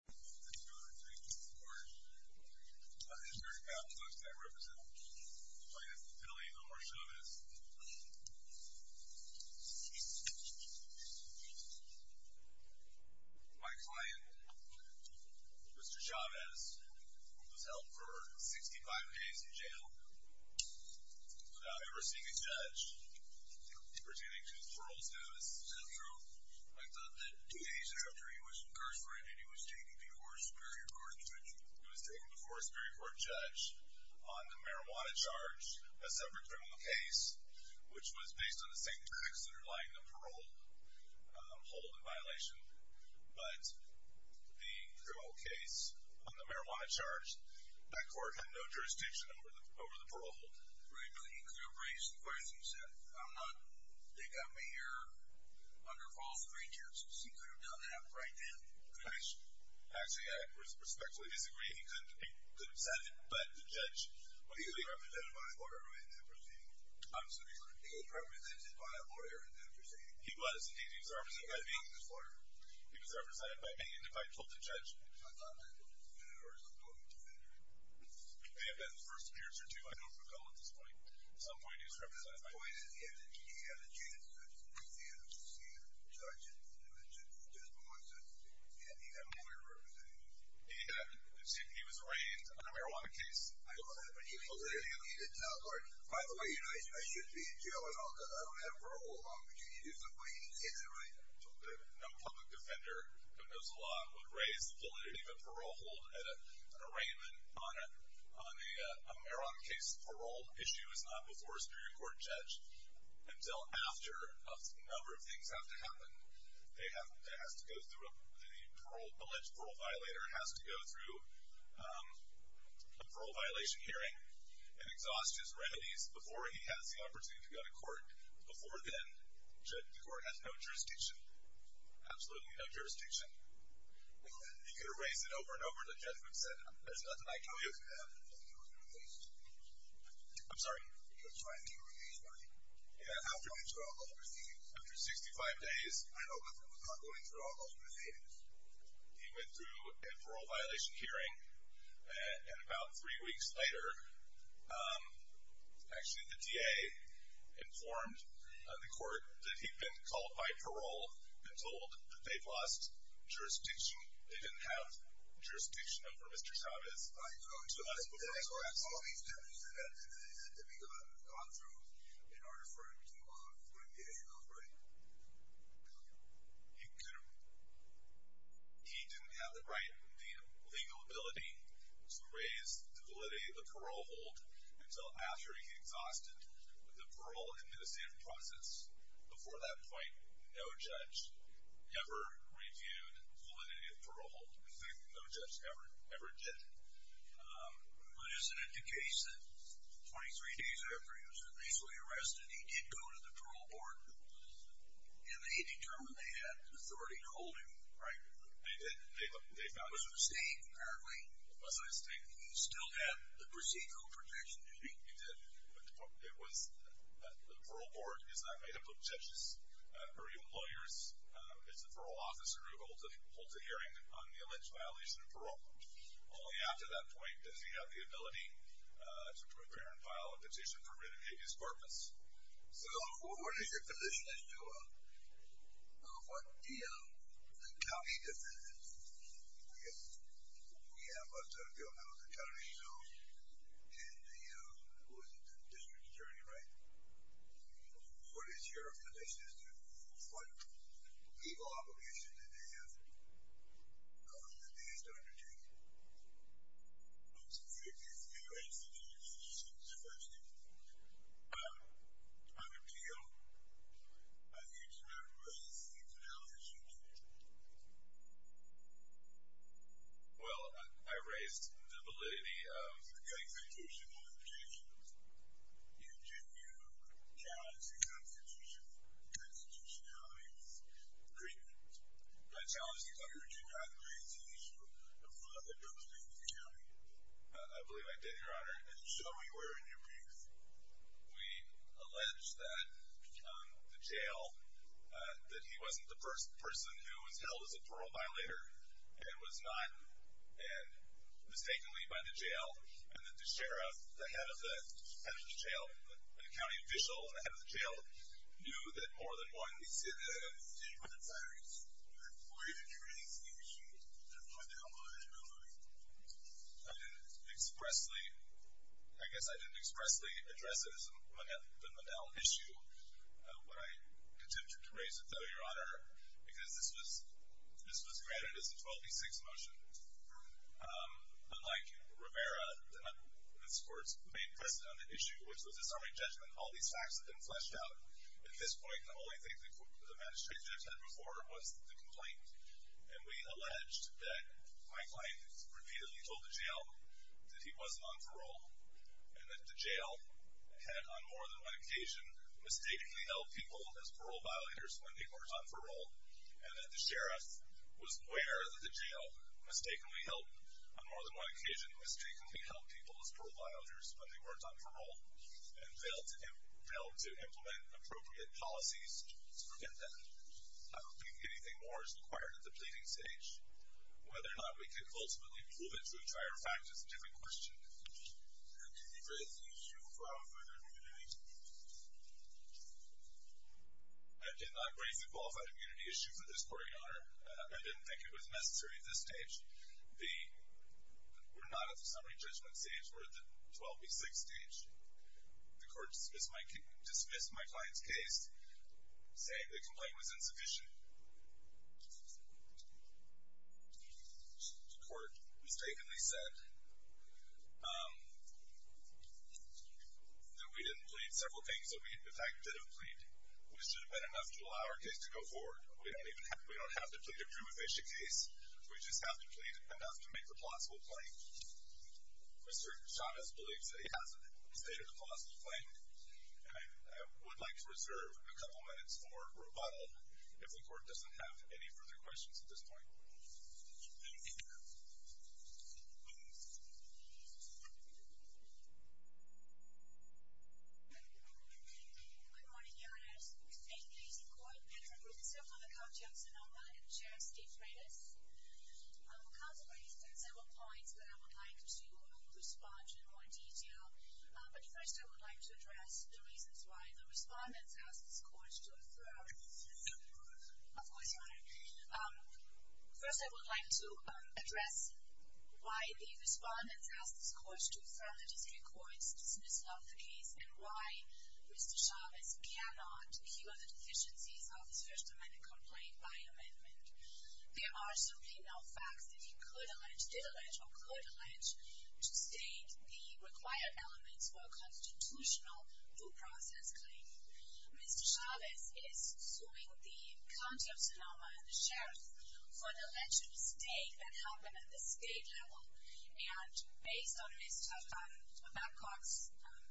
Thank you, Your Honor. Thank you for your support. Mr. Chavez, I represent plaintiff Philly in the heart of Sonoma City. My client, Mr. Chavez, was held for 65 days in jail without ever seeing a judge. Pertaining to his parole status, is that true? I thought that two days after he was incarcerated, he was taken before a Superior Court judge. He was taken before a Superior Court judge on the marijuana charge, a separate criminal case, which was based on the same facts underlying the parole hold and violation. But the criminal case on the marijuana charge, that court had no jurisdiction over the parole. Regularly, he could have raised the question and said, I'm not, they got me here under false pretenses. He could have done that right then. Actually, I respectfully disagree. He could have said it, but the judge, he was represented by a lawyer in that proceeding. He was represented by a lawyer in that proceeding. He was. He was represented by me. He was represented by me, and if I told the judge, I thought that was definitive, or it's not going to be definitive. It may have been the first years or two, I don't recall at this point. At some point, he was represented by me. He had a chance to see a judge, and he had a chance to see a judge by myself. He had a lawyer representing him. He was arraigned on a marijuana case? I don't know that, but he was a lawyer. He didn't tell the court, by the way, I should be in jail, and I don't have a parole hold. Is that what he said? No public defender, but knows a lot, would raise the bullet. He could leave a parole hold at an arraignment on a marijuana case. Parole issue is not before a superior court judge until after a number of things have to happen. They have to go through a parole, alleged parole violator has to go through a parole violation hearing and exhaust his remedies before he has the opportunity to go to court. Before then, the court has no jurisdiction. Absolutely no jurisdiction. He could have raised it over and over, and the judge would have said, there's nothing I can do. I'm sorry. After 65 days. He went through a parole violation hearing, and about three weeks later, actually the DA informed the court that he'd been called by parole and told that they've lost jurisdiction. They didn't have jurisdiction over Mr. Chavez. So that's before he's arrested. All of these deputies that we've gone through, they are referred to the DA, right? Yeah. He didn't have the legal ability to raise the validity of the parole hold until after he exhausted the parole administrative process. Before that point, no judge ever reviewed validity of parole hold. No judge ever did. But isn't it the case that 23 days after he was initially arrested, he did go to the parole board, and they determined they had authority to hold him? Right. They did. It was his name, apparently. It was his name. He still had the procedural protection, didn't he? He did. The parole board is not made up of judges or even lawyers. It's the parole officer who holds a hearing on the alleged violation of parole. Only after that point does he have the ability to prepare and file a petition for renegadious purpose. So what is your position as to what the county defense is? I guess we have a federal health attorney, so, and who is the district attorney, right? What is your position as to what legal obligation did they have on the DA to undertake it? I'm sorry, I didn't hear anything. I didn't hear anything since the first interview. On appeal, you did not raise these allegations. Well, I raised the validity of the constitutional objections in Juneau County Constitutional Amendments Agreement. That challenge is under Juneau. It's an issue of the state of the county. I believe I did, Your Honor. And so we were in your views. We allege that the jail, that he wasn't the person who was held as a parole violator and was not mistakenly by the jail and that the sheriff, the head of the jail, the county official, the head of the jail, knew that more than one, we see it in the head of the district attorney, we didn't hear anything. We didn't know what the obligation was. I didn't expressly, I guess I didn't expressly address it as the Monell issue when I attempted to raise it, though, Your Honor, because this was granted as a 12D6 motion. Unlike Rivera, the undisclosed main precedent on the issue, which was disarming judgment, all these facts have been fleshed out. At this point, the only thing the administrative judge had before was the complaint. And we alleged that my client repeatedly told the jail that he wasn't on parole and that the jail had, on more than one occasion, mistakenly held people as parole violators when they weren't on parole and that the sheriff was aware that the jail mistakenly held, on more than one occasion, mistakenly held people as parole violators when they weren't on parole and failed to implement appropriate policies to prevent that. I don't think anything more is required at the pleading stage. Whether or not we can ultimately prove it through trial or fact is a different question. And did you raise the issue of qualified immunity? I did not raise the qualified immunity issue for this court, Your Honor. I didn't think it was necessary at this stage. We're not at the summary judgment stage. We're at the 12D6 stage. The court dismissed my client's case, saying the complaint was insufficient. The court mistakenly said that we didn't plead several things that we, in fact, did have pleaded, which should have been enough to allow our case to go forward. We don't have to plead to prove it's a case. We just have to plead enough to make a plausible claim. Mr. Chavez believes that he has a state of a plausible claim and I would like to reserve a couple minutes for rebuttal if the court doesn't have any further questions at this point. Good morning, Your Honor. We thank the court and the group and several other contacts in OMA and the chair, Steve Freitas. I will contemplate several points that I would like to respond to in more detail. But first, I would like to address the reasons why the respondents asked this court to defer. Of course, Your Honor. First, I would like to address why the respondents asked this court to defer and the district courts to dismiss of the case and why Mr. Chavez cannot heal the deficiencies of the First Amendment complaint by amendment. There are certainly no facts that he could allege, did allege, or could allege to state the required elements for a constitutional due process claim. Mr. Chavez is suing the county of Sonoma and the sheriff for an election mistake that happened at the state level and based on Mr. Babcock's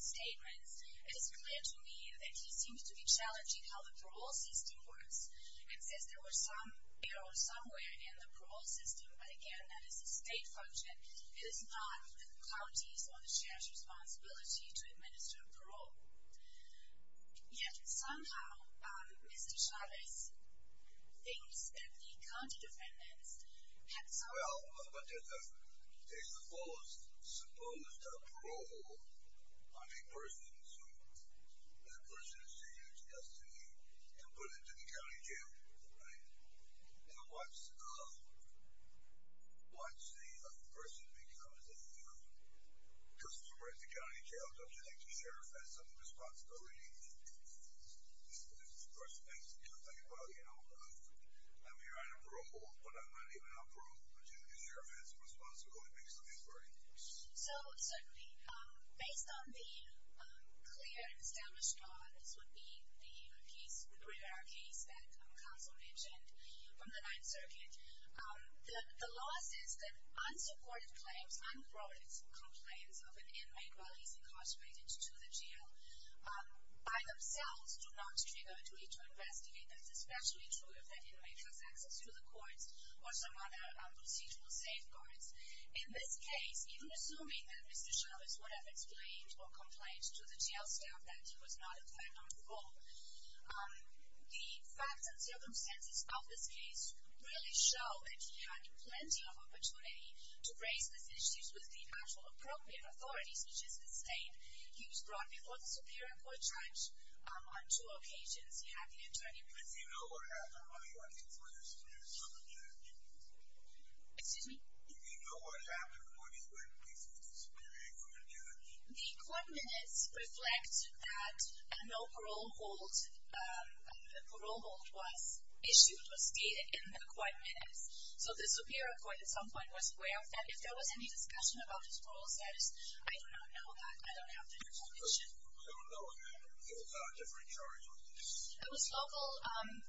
statements, it is clear to me that he seems to be challenging how the parole system works and says there were some errors somewhere in the parole system, but again, that is a state function. It is not the county's or the sheriff's responsibility to administer parole. Yet, somehow, Mr. Chavez thinks that the county defendants have some... Well, but there's a clause, suppose the parole of a person is sued. That person is sentenced yesterday and put into the county jail, right? Now, what's the other person become? Is it, you know, just because we're in the county jail, doesn't mean the sheriff has some responsibility to administer the First Amendment? I mean, well, you know, I'm here on a parole, but I'm not even on parole, but the sheriff has some responsibility based on his verdict. So, certainly, based on the clear and established clause, this would be the brief in our case that counsel mentioned from the Ninth Circuit. The law says that unsupported claims, unthrown complaints of an inmate while he's incarcerated to the jail by themselves do not trigger a duty to investigate. That's especially true if that inmate has access to the courts or some other procedural safeguards. In this case, even assuming that Mr. Chavez would have explained or complained to the jail staff that he was not a defendant on parole, the facts and circumstances of this case really show that he had plenty of opportunity to raise those issues with the actual appropriate authorities, which is the state. He was brought before the Superior Court judge on two occasions. He had the attorney present... But do you know what happened when he was brought before the Superior Court judge? Excuse me? Do you know what happened when he was brought before the Superior Court judge? The court minutes reflect that a no-parole hold, a parole hold was issued, was gated in the court minutes. So the Superior Court, at some point, was aware of that. If there was any discussion about his parole status, I do not know that. I don't have the information. So there was a different charge on this? It was local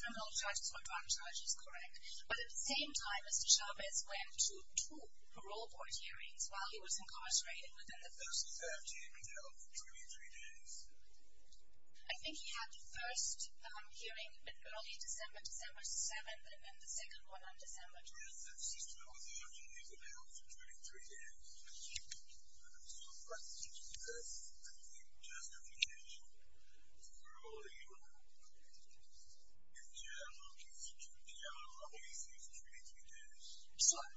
criminal charges or drug charges, correct. But at the same time, Mr. Chavez went to two parole court hearings while he was incarcerated. He was in the first 13, and held for 23 days. I think he had the first hearing in early December, December 7, and then the second one on December 10. Yes, that's true. He was held for 23 days. I'm surprised you didn't know this. I mean, just a few years ago. For all you know. In general, he was in jail for 23 days. Sure.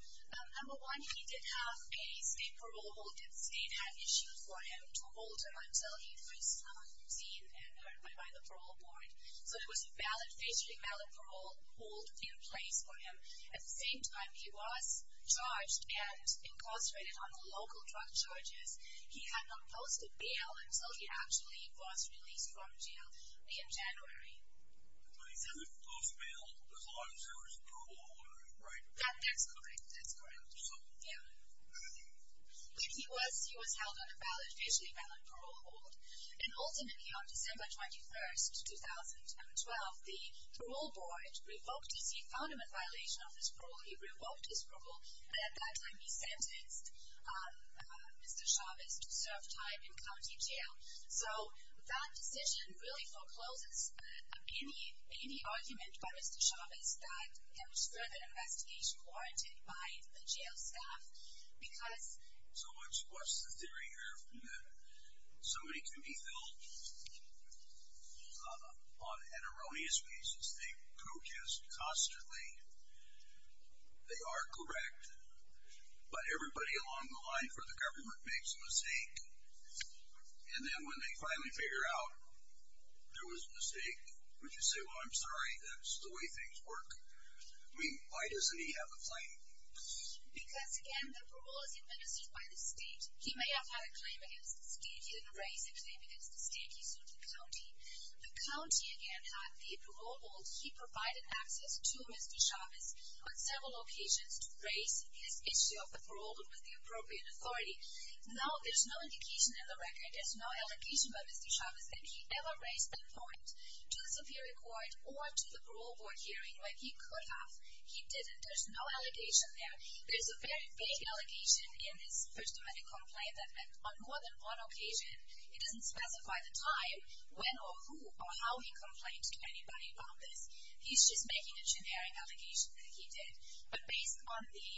Number one, he did have a parole hold. State had issued for him to hold until he was 13 and notified by the parole board. So there was a valid, basically valid parole hold in place for him. At the same time, he was charged and incarcerated on local drug charges. He had not posted bail until he actually was released from jail in January. But he didn't post bail as long as there was a parole hold, right? That's correct. That's correct. He was held on a valid, basically valid parole hold. And ultimately, on December 21, 2012, the parole board revoked his, he found him in violation of his parole, he revoked his parole, and at that time, he sentenced Mr. Chavez to serve time in county jail. So that decision really forecloses any argument by Mr. Chavez that there was further investigation warranted by the jail staff because... So what's the theory here? Somebody can be filled on an erroneous basis. They protest constantly. They are correct. But everybody along the line for the government makes a mistake. And then when they finally figure out there was a mistake, would you say, well, I'm sorry, that's the way things work? I mean, why doesn't he have a claim? Because, again, the parole is administered by the state. He may have had a claim against the state. He didn't raise a claim against the state. He sued the county. The county, again, had the parole board. He provided access to Mr. Chavez on several occasions to raise his issue of the parole with the appropriate authority. Now, there's no indication in the record, there's no allegation by Mr. Chavez that he ever raised that point to the superior court or to the parole board hearing where he could have. He didn't. There's no allegation there. There's a very vague allegation in his first amendment complaint that on more than one occasion, it doesn't specify the time, when or who or how he complained to anybody about this. He's just making a generic allegation that he did. But based on the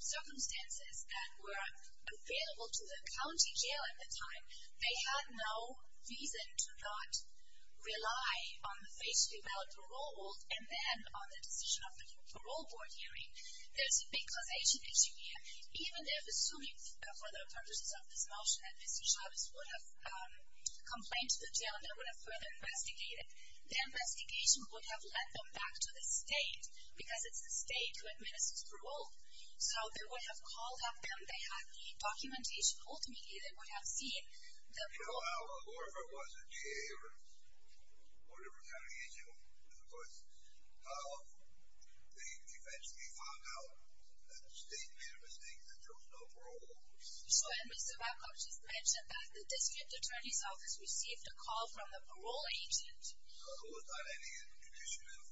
circumstances that were available to the county jail at the time, they had no reason to not rely on the face-to-face parole board and then on the decision of the parole board hearing. There's a big causation issue here. Even if, assuming further purposes of this motion, that Mr. Chavez would have complained to the jail and they would have further investigated, the investigation would have led them back to the state because it's the state who administers parole. So, they would have called up them, they had the documentation. Ultimately, they would have seen the parole board. You know, whoever was in jail or whoever county agent was, of course, they eventually found out that the state made a mistake that there was no parole board. So, and Mr. Wackow, she's mentioned that the district attorney's office received a call from the parole agent. So, who was that? Any institutional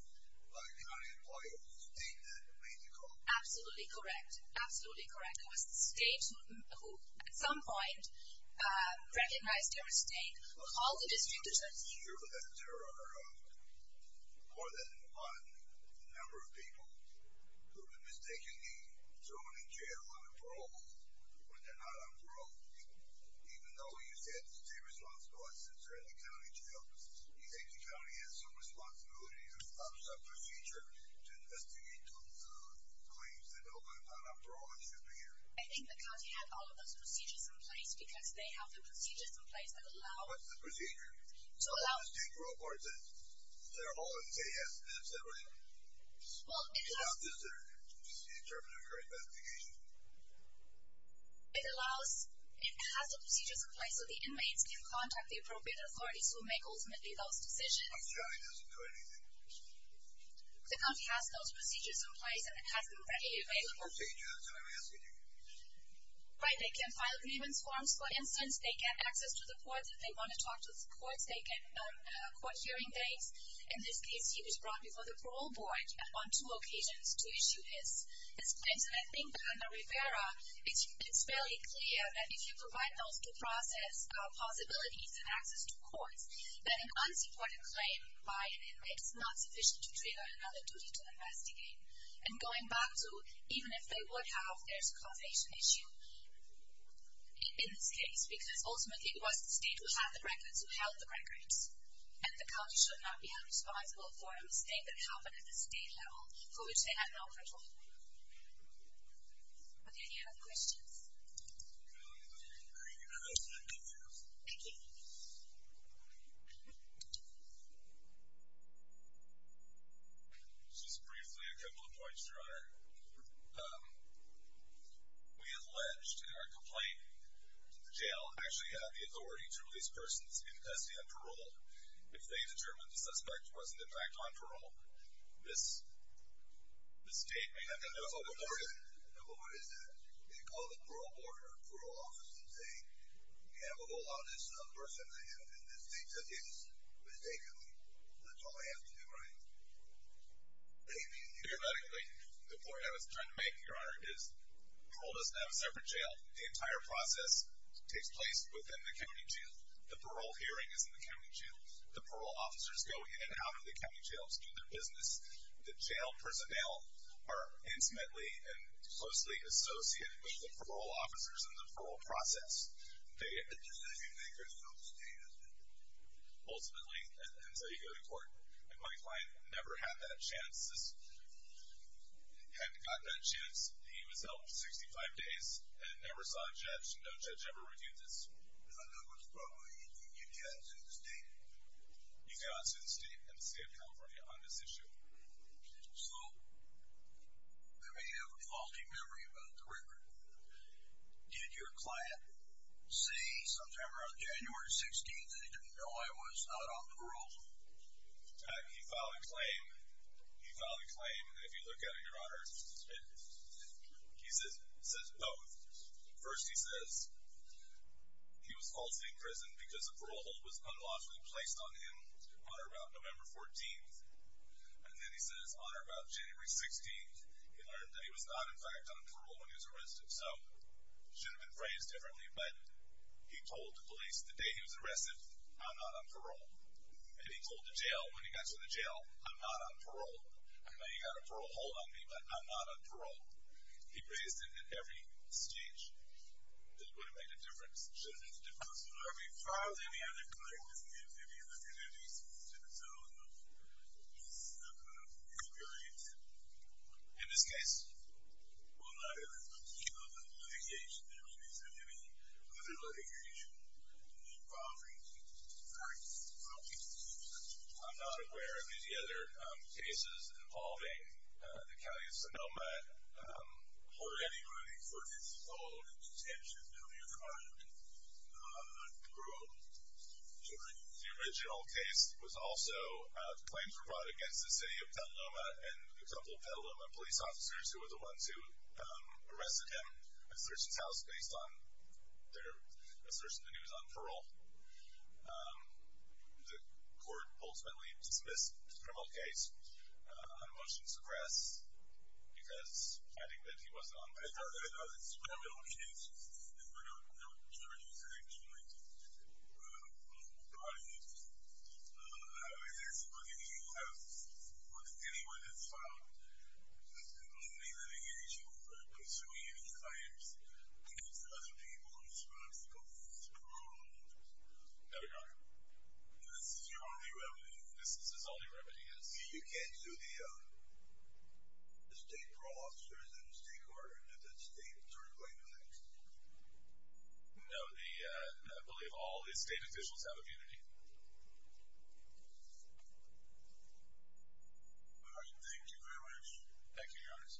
county employee of the state that made the call? Absolutely correct. Absolutely correct. It was the state who, at some point, recognized their mistake. All the district attorneys. I think the county had all of those procedures in place because they have the procedures in place to allow... What's the procedure? To allow... The state parole board that they're allowed to say yes and that's everything. Well, it allows... It's not just their... In terms of their investigation. It allows... It has the procedures in place so the inmates can contact the appropriate authorities who make, ultimately, those decisions. But the county doesn't do anything. The county has those procedures in place and it has them readily available. What procedure? That's what I'm asking you. Right. They can file grievance forms, for instance, they get access to the courts if they want to talk to the courts, they get court hearing dates. In this case, he was brought before the parole board on two occasions to issue his claims. And I think that under Rivera, it's fairly clear that if you provide those two processes, possibilities, and access to courts, then an unsupported claim by an inmate is not sufficient to trigger another duty to investigate. And going back to, even if they would have, there's a causation issue in this case because, ultimately, it was the state who had the records, who held the records. And the county should not be held responsible for a mistake that happened at the state level for which they had no control. Are there any other questions? Thank you. Thank you. Thank you. Just briefly, a couple of points, Your Honor. We alleged in our complaint that the jail actually had the authority to release persons in custody on parole if they determined the suspect wasn't, in fact, on parole. This statement... No, but what is that? They called the parole board or the parole office and say, we have a low-level person in this state that is mistakenly. That's all they have to do, right? The point I was trying to make, Your Honor, is parole doesn't have a separate jail. The entire process takes place within the county jail. The parole hearing is in the county jail. The parole officers go in and out of the county jail to do their business. The jail personnel are intimately and closely associated with the parole officers in the parole process. They... Ultimately, and so you go to court, and my client never had that chance to do his business. Had not that chance. He was held for 65 days and never saw a judge. No judge ever reviewed this. I know what's wrong. You can't sue the state. You cannot sue the state and the state of California on this issue. So... I may have a faulty memory about the record. Did your client say sometime around January 16th that he didn't know I was not on parole? He filed a claim. He filed a claim. If you look at it, your honor, he says both. First he says he was falsely imprisoned because a parole hold was unlawfully placed on him on or about November 14th. And then he says on or about January 16th he learned that he was not in fact on parole when he was arrested. So, it should have been but he told the police the day he was arrested, I'm not on parole. And he told the jail, when he got to the jail, I'm not on parole. I know you got a parole hold on me, but I'm not on parole. He raised it at every stage. This would have made a difference. It should have made a difference. I mean, far as any other client, if you look at it, it exists in its own subgroup. It could be oriented. In this case, well, not in this particular litigation. There wouldn't have been any other litigation involving practice from people in jail. I'm not aware of any other cases involving the county of Sonoma or anybody for this whole detention community group. The original case was also claims were brought against the city of Del Loma and a couple of Del Loma police officers who were the ones who arrested him and searched his house based on their assertion that he was on parole. The court ultimately dismissed the criminal case on motion to suppress because finding that he was on parole. I know that it's a criminal case. There were no charges actually brought against him. I mean, there's nothing that you have with anyone that's filed a criminal litigation for consuming any clients against other people whose responsibilities are not criminal. No, Your Honor. This is your only remedy? This is his only remedy, yes. You can't sue the state parole officers and the state court and the state attorney plaintiff? No, I believe all the state officials have a duty. All right, thank you very much. Thank you, Your Honor. Okay.